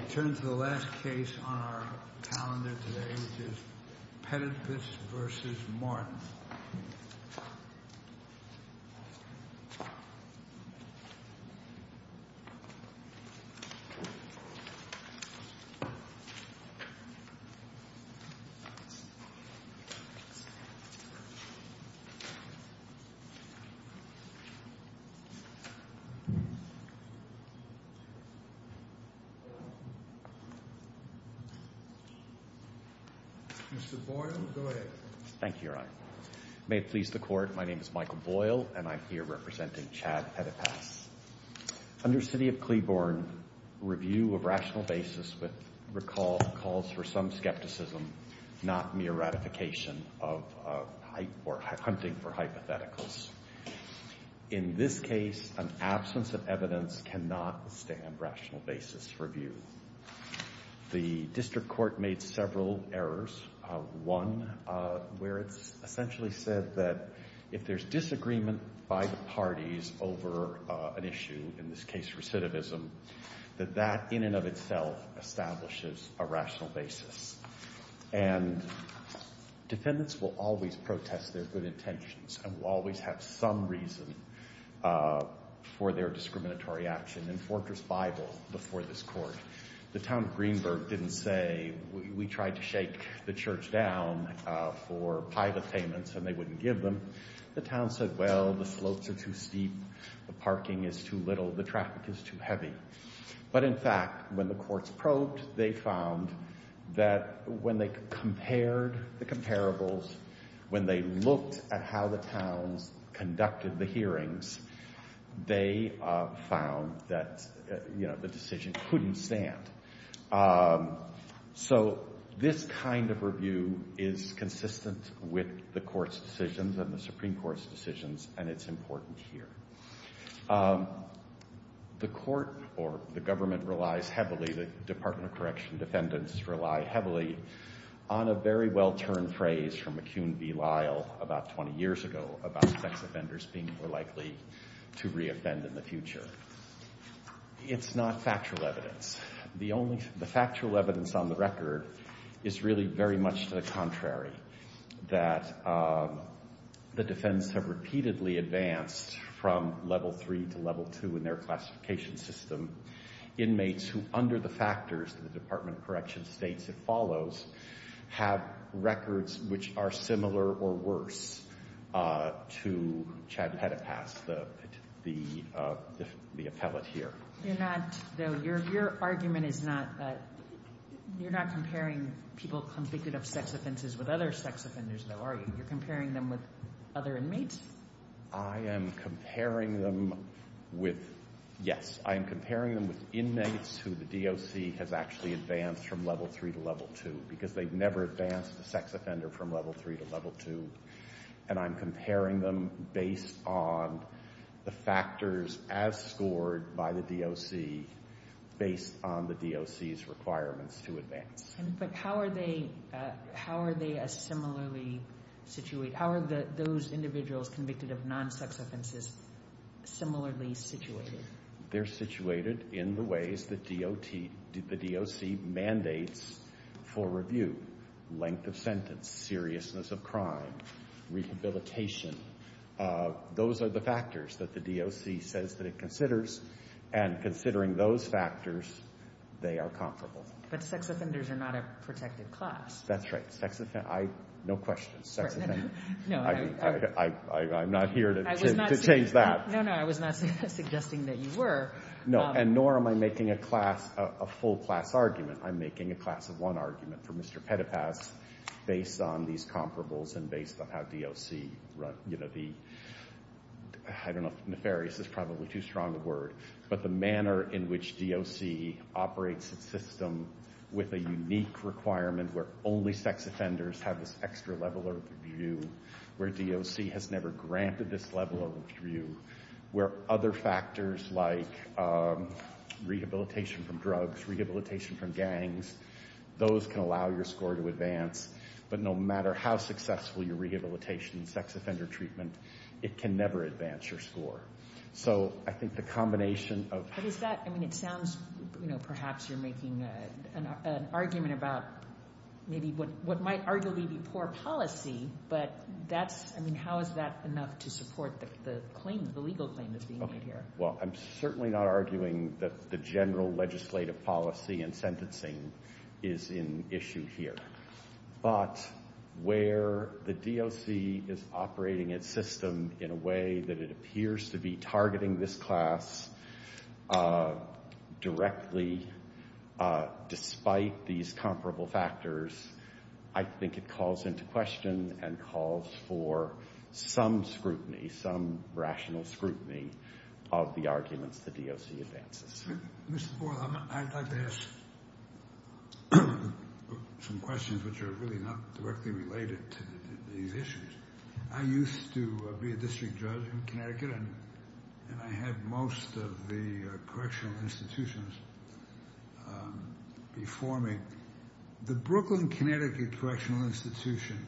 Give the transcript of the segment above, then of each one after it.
I turn to the last case on our calendar today, which is Petitpas v. Martin. Mr. Boyle, go ahead. Thank you, Your Honor. May it please the Court, my name is Michael Boyle, and I'm here representing Chad Petitpas. Under City of Cleveland, review of rational basis calls for some skepticism, not mere ratification or hunting for hypotheticals. In this case, an absence of evidence cannot withstand rational basis review. The district court made several errors. One, where it's essentially said that if there's disagreement by the parties over an issue, in this case recidivism, that that in and of itself establishes a rational basis. And defendants will always protest their good intentions and will always have some reason for their discriminatory action. In Fortress Bible, before this court, the town of Greenberg didn't say, we tried to shake the church down for pilot payments and they wouldn't give them. The town said, well, the slopes are too steep, the parking is too little, the traffic is too heavy. But in fact, when the courts probed, they found that when they compared the comparables, when they looked at how the towns conducted the hearings, they found that the decision couldn't stand. So this kind of review is consistent with the court's decisions and the Supreme Court's decisions, and it's important here. The court or the government relies heavily, the Department of Correction defendants rely heavily, on a very well-turned phrase from McCune v. Lyle about 20 years ago about sex offenders being more likely to reoffend in the future. It's not factual evidence. The factual evidence on the record is really very much to the contrary, that the defendants have repeatedly advanced from level three to level two in their classification system. Inmates who, under the factors that the Department of Correction states it follows, have records which are similar or worse to Chad Petipas, the appellate here. You're not, though, your argument is not, you're not comparing people convicted of sex offenses with other sex offenders, though, are you? You're comparing them with other inmates? I am comparing them with, yes, I am comparing them with inmates who the DOC has actually advanced from level three to level two, because they've never advanced a sex offender from level three to level two. And I'm comparing them based on the factors as scored by the DOC, based on the DOC's requirements to advance. But how are they similarly situated? How are those individuals convicted of non-sex offenses similarly situated? They're situated in the ways that the DOC mandates for review. Length of sentence, seriousness of crime, rehabilitation. Those are the factors that the DOC says that it considers, and considering those factors, they are comparable. But sex offenders are not a protected class. That's right. No questions. I'm not here to change that. No, no, I was not suggesting that you were. No, and nor am I making a class, a full class argument. I'm making a class of one argument for Mr. Petipas based on these comparables and based on how DOC, you know, the, I don't know, nefarious is probably too strong a word, but the manner in which DOC operates its system with a unique requirement where only sex offenders have this extra level of review, where DOC has never granted this level of review, where other factors like rehabilitation from drugs, rehabilitation from gangs, those can allow your score to advance. But no matter how successful your rehabilitation and sex offender treatment, it can never advance your score. So I think the combination of... But is that, I mean, it sounds, you know, perhaps you're making an argument about maybe what might arguably be poor policy, but that's, I mean, how is that enough to support the claim, the legal claim that's being made here? Well, I'm certainly not arguing that the general legislative policy and sentencing is in issue here. But where the DOC is operating its system in a way that it appears to be targeting this class directly despite these comparable factors, I think it calls into question and calls for some scrutiny, some rational scrutiny of the arguments the DOC advances. Mr. Boyle, I'd like to ask some questions which are really not directly related to these issues. I used to be a district judge in Connecticut, and I had most of the correctional institutions before me. The Brooklyn, Connecticut Correctional Institution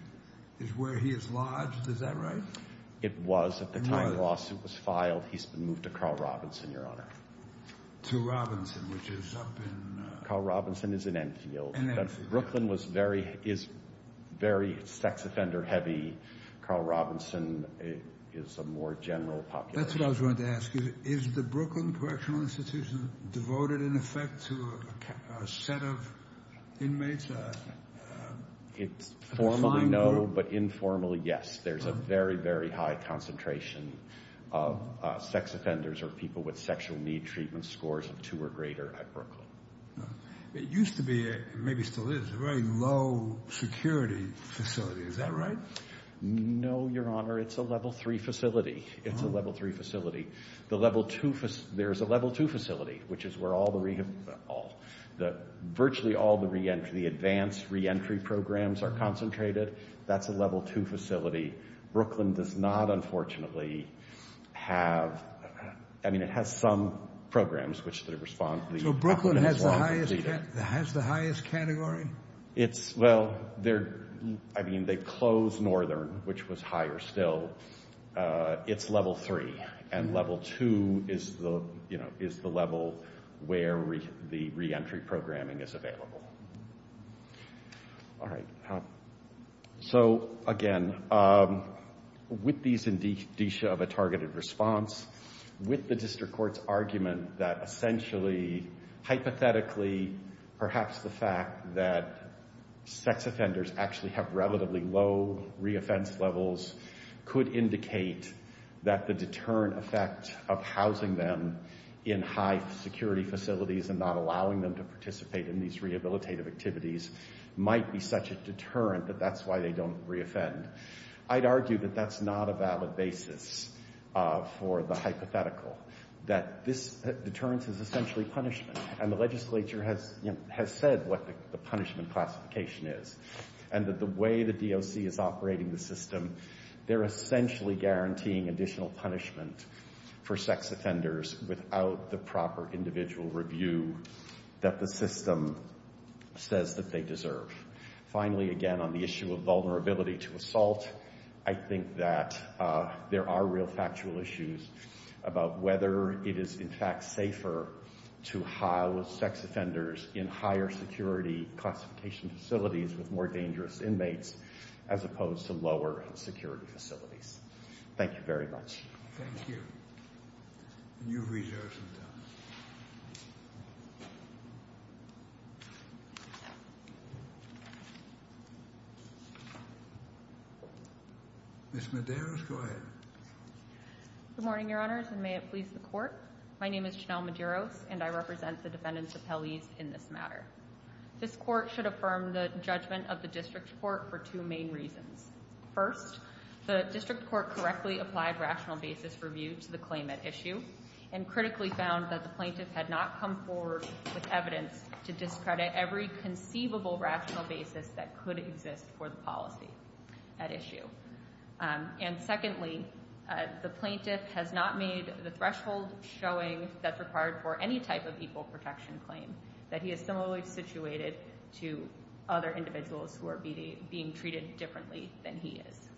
is where he is lodged, is that right? It was at the time the lawsuit was filed. He's been moved to Carl Robinson, Your Honor. To Robinson, which is up in... Carl Robinson is in Enfield. Brooklyn is very sex offender heavy. Carl Robinson is a more general population. That's what I was going to ask you. Is the Brooklyn Correctional Institution devoted in effect to a set of inmates? Formally, no, but informally, yes. There's a very, very high concentration of sex offenders or people with sexual need treatment scores of two or greater at Brooklyn. It used to be, and maybe still is, a very low security facility. Is that right? No, Your Honor. It's a level three facility. It's a level three facility. There's a level two facility, which is where virtually all the advanced reentry programs are concentrated. That's a level two facility. Brooklyn does not, unfortunately, have... I mean, it has some programs, which the... So Brooklyn has the highest category? Well, I mean, they closed Northern, which was higher still. It's level three, and level two is the level where the reentry programming is available. All right. So, again, with this indicia of a targeted response, with the district court's argument that essentially, hypothetically, perhaps the fact that sex offenders actually have relatively low reoffense levels could indicate that the deterrent effect of housing them in high security facilities and not allowing them to participate in these rehabilitative activities might be such a deterrent that that's why they don't reoffend. I'd argue that that's not a valid basis for the hypothetical, that this deterrence is essentially punishment, and the legislature has said what the punishment classification is, and that the way the DOC is operating the system, they're essentially guaranteeing additional punishment for sex offenders without the proper individual review that the system says that they deserve. Finally, again, on the issue of vulnerability to assault, I think that there are real factual issues about whether it is, in fact, safer to house sex offenders in higher security classification facilities with more dangerous inmates as opposed to lower security facilities. Thank you very much. Thank you. And you've reserved some time. Ms. Medeiros, go ahead. Good morning, Your Honors, and may it please the Court. My name is Janelle Medeiros, and I represent the defendants' appellees in this matter. This Court should affirm the judgment of the District Court for two main reasons. First, the District Court correctly applied rational basis review to the claim at issue and critically found that the plaintiff had not come forward with evidence to discredit every conceivable rational basis that could exist for the policy at issue. And secondly, the plaintiff has not made the threshold showing that's required for any type of equal protection claim, that he is similarly situated to other individuals who are being treated differently than he is.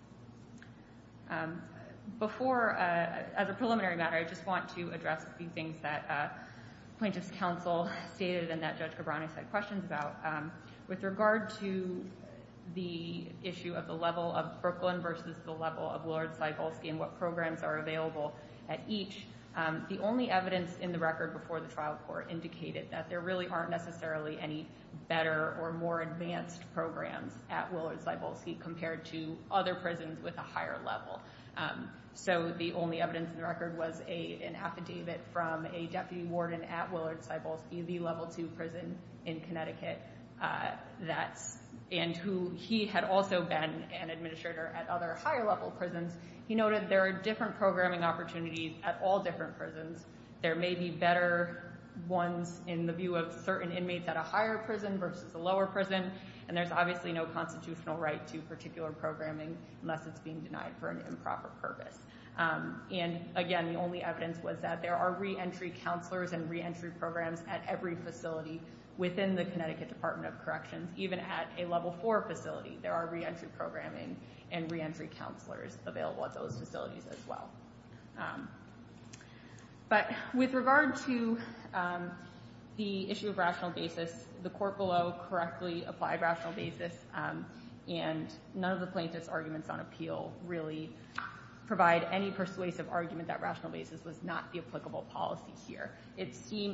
Before, as a preliminary matter, I just want to address a few things that Plaintiff's Counsel stated and that Judge Cabrani said questions about. With regard to the issue of the level of Brooklyn versus the level of Willard Cybulski and what programs are available at each, the only evidence in the record before the trial court indicated that there really aren't necessarily any better or more advanced programs at Willard Cybulski compared to other prisons with a higher level. So the only evidence in the record was an affidavit from a deputy warden at Willard Cybulski, the level two prison in Connecticut, and who he had also been an administrator at other higher level prisons. He noted there are different programming opportunities at all different prisons. There may be better ones in the view of certain inmates at a higher prison versus a lower prison, and there's obviously no constitutional right to particular programming unless it's being denied for an improper purpose. And again, the only evidence was that there are reentry counselors and reentry programs at every facility within the Connecticut Department of Corrections. Even at a level four facility, there are reentry programming and reentry counselors available at those facilities as well. But with regard to the issue of rational basis, the court below correctly applied rational basis, and none of the plaintiff's arguments on appeal really provide any persuasive argument that rational basis was not the applicable policy here,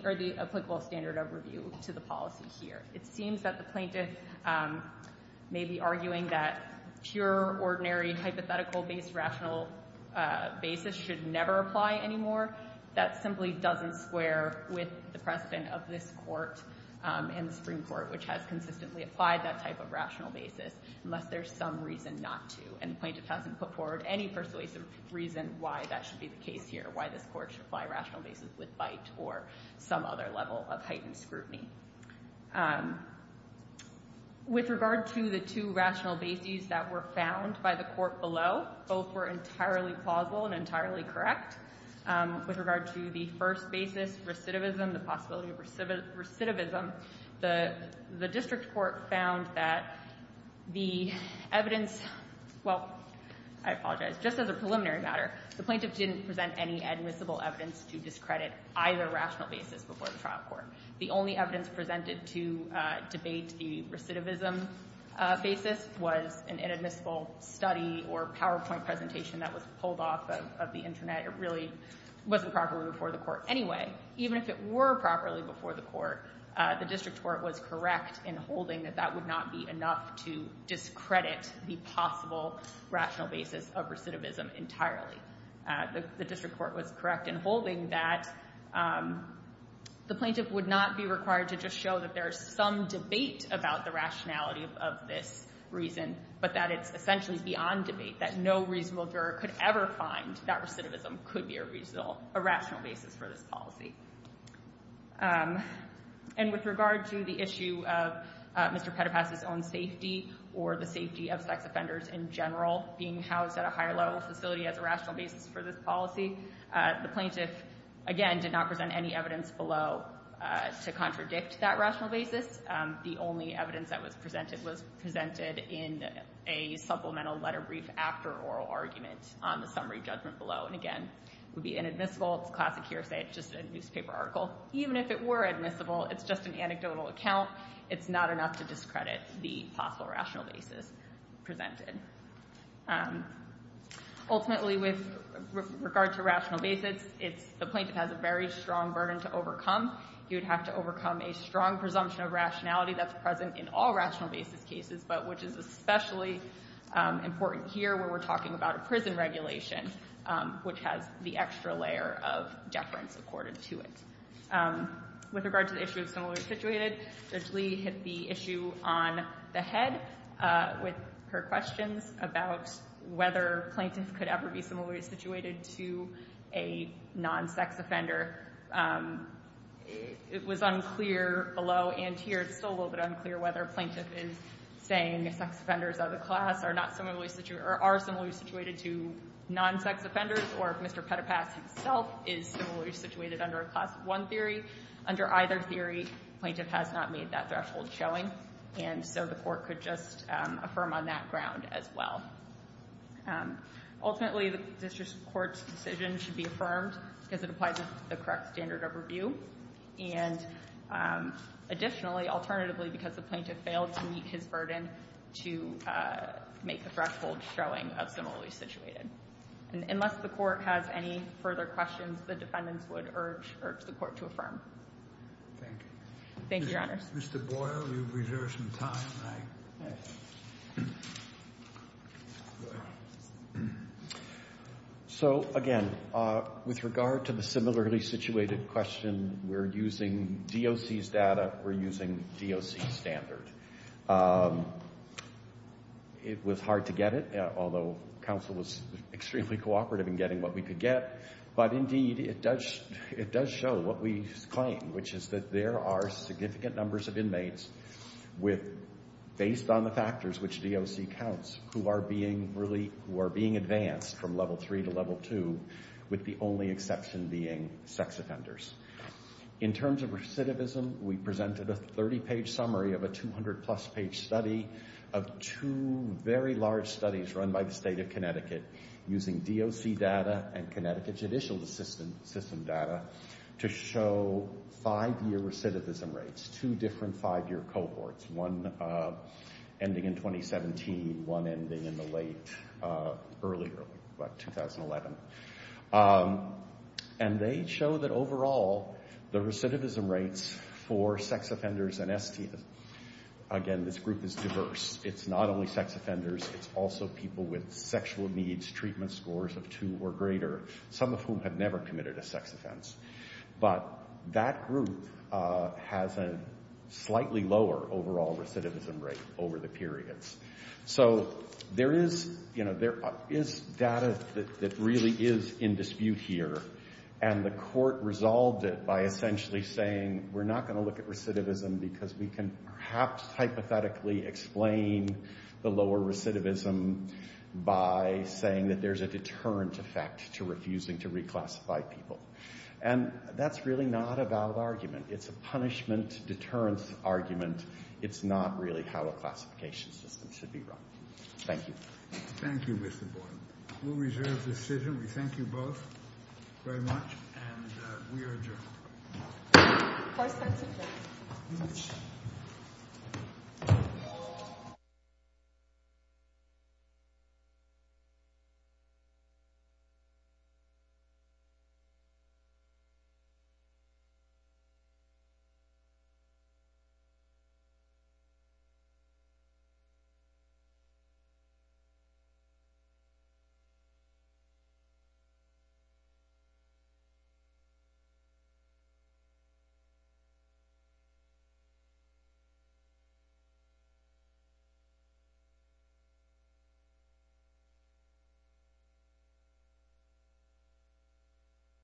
or the applicable standard of review to the policy here. It seems that the plaintiff may be arguing that pure, ordinary, hypothetical-based rational basis should never apply anymore. That simply doesn't square with the precedent of this court and the Supreme Court, which has consistently applied that type of rational basis unless there's some reason not to, and the plaintiff hasn't put forward any persuasive reason why that should be the case here, or why this court should apply rational basis with bite or some other level of heightened scrutiny. With regard to the two rational basis that were found by the court below, both were entirely plausible and entirely correct. With regard to the first basis, recidivism, the possibility of recidivism, the district court found that the evidence – well, I apologize. Just as a preliminary matter, the plaintiff didn't present any admissible evidence to discredit either rational basis before the trial court. The only evidence presented to debate the recidivism basis was an inadmissible study or PowerPoint presentation that was pulled off of the Internet. It really wasn't properly before the court anyway. Even if it were properly before the court, the district court was correct in holding that that would not be enough to discredit the possible rational basis of recidivism entirely. The district court was correct in holding that the plaintiff would not be required to just show that there is some debate about the rationality of this reason, but that it's essentially beyond debate, that no reasonable juror could ever find that recidivism could be a rational basis for this policy. And with regard to the issue of Mr. Petipas' own safety or the safety of sex offenders in general being housed at a higher level facility as a rational basis for this policy, the plaintiff, again, did not present any evidence below to contradict that rational basis. The only evidence that was presented was presented in a supplemental letter brief after oral argument on the summary judgment below. And again, it would be inadmissible. It's a classic hearsay. It's just a newspaper article. Even if it were admissible, it's just an anecdotal account. It's not enough to discredit the possible rational basis presented. Ultimately, with regard to rational basis, the plaintiff has a very strong burden to overcome. He would have to overcome a strong presumption of rationality that's present in all rational basis cases, but which is especially important here where we're talking about a prison regulation, which has the extra layer of deference accorded to it. With regard to the issue of similarity situated, Judge Lee hit the issue on the head with her questions about whether plaintiffs could ever be similarly situated to a non-sex offender. It was unclear below and here. It's still a little bit unclear whether a plaintiff is saying sex offenders of the class are not similarly situated or are similarly situated to non-sex offenders, or if Mr. Petipas himself is similarly situated under a Class I theory. Under either theory, the plaintiff has not made that threshold showing. And so the Court could just affirm on that ground as well. Ultimately, the district court's decision should be affirmed because it applies to the correct standard of review. And additionally, alternatively, because the plaintiff failed to meet his burden to make the threshold showing of similarly situated. And unless the Court has any further questions, the defendants would urge the Court to affirm. Thank you, Your Honors. Mr. Boyle, you've reserved some time. All right. So, again, with regard to the similarly situated question, we're using DOC's data. We're using DOC's standard. It was hard to get it, although counsel was extremely cooperative in getting what we could get. But, indeed, it does show what we claim, which is that there are significant numbers of inmates with, based on the factors which DOC counts, who are being advanced from Level III to Level II, with the only exception being sex offenders. In terms of recidivism, we presented a 30-page summary of a 200-plus-page study of two very large studies run by the State of Connecticut using DOC data and Connecticut judicial system data to show five-year recidivism rates, two different five-year cohorts, one ending in 2017, one ending in the late, early, early, what, 2011. And they show that, overall, the recidivism rates for sex offenders and STIs, again, this group is diverse. It's not only sex offenders. It's also people with sexual needs, treatment scores of two or greater, some of whom have never committed a sex offense. But that group has a slightly lower overall recidivism rate over the periods. So there is data that really is in dispute here. And the court resolved it by essentially saying, we're not going to look at recidivism because we can perhaps hypothetically explain the lower recidivism by saying that there's a deterrent effect to refusing to reclassify people. And that's really not a valid argument. It's a punishment-deterrence argument. It's not really how a classification system should be run. Thank you. Thank you, Mr. Boyle. We'll reserve the decision. We thank you both very much. And we are adjourned. Thank you.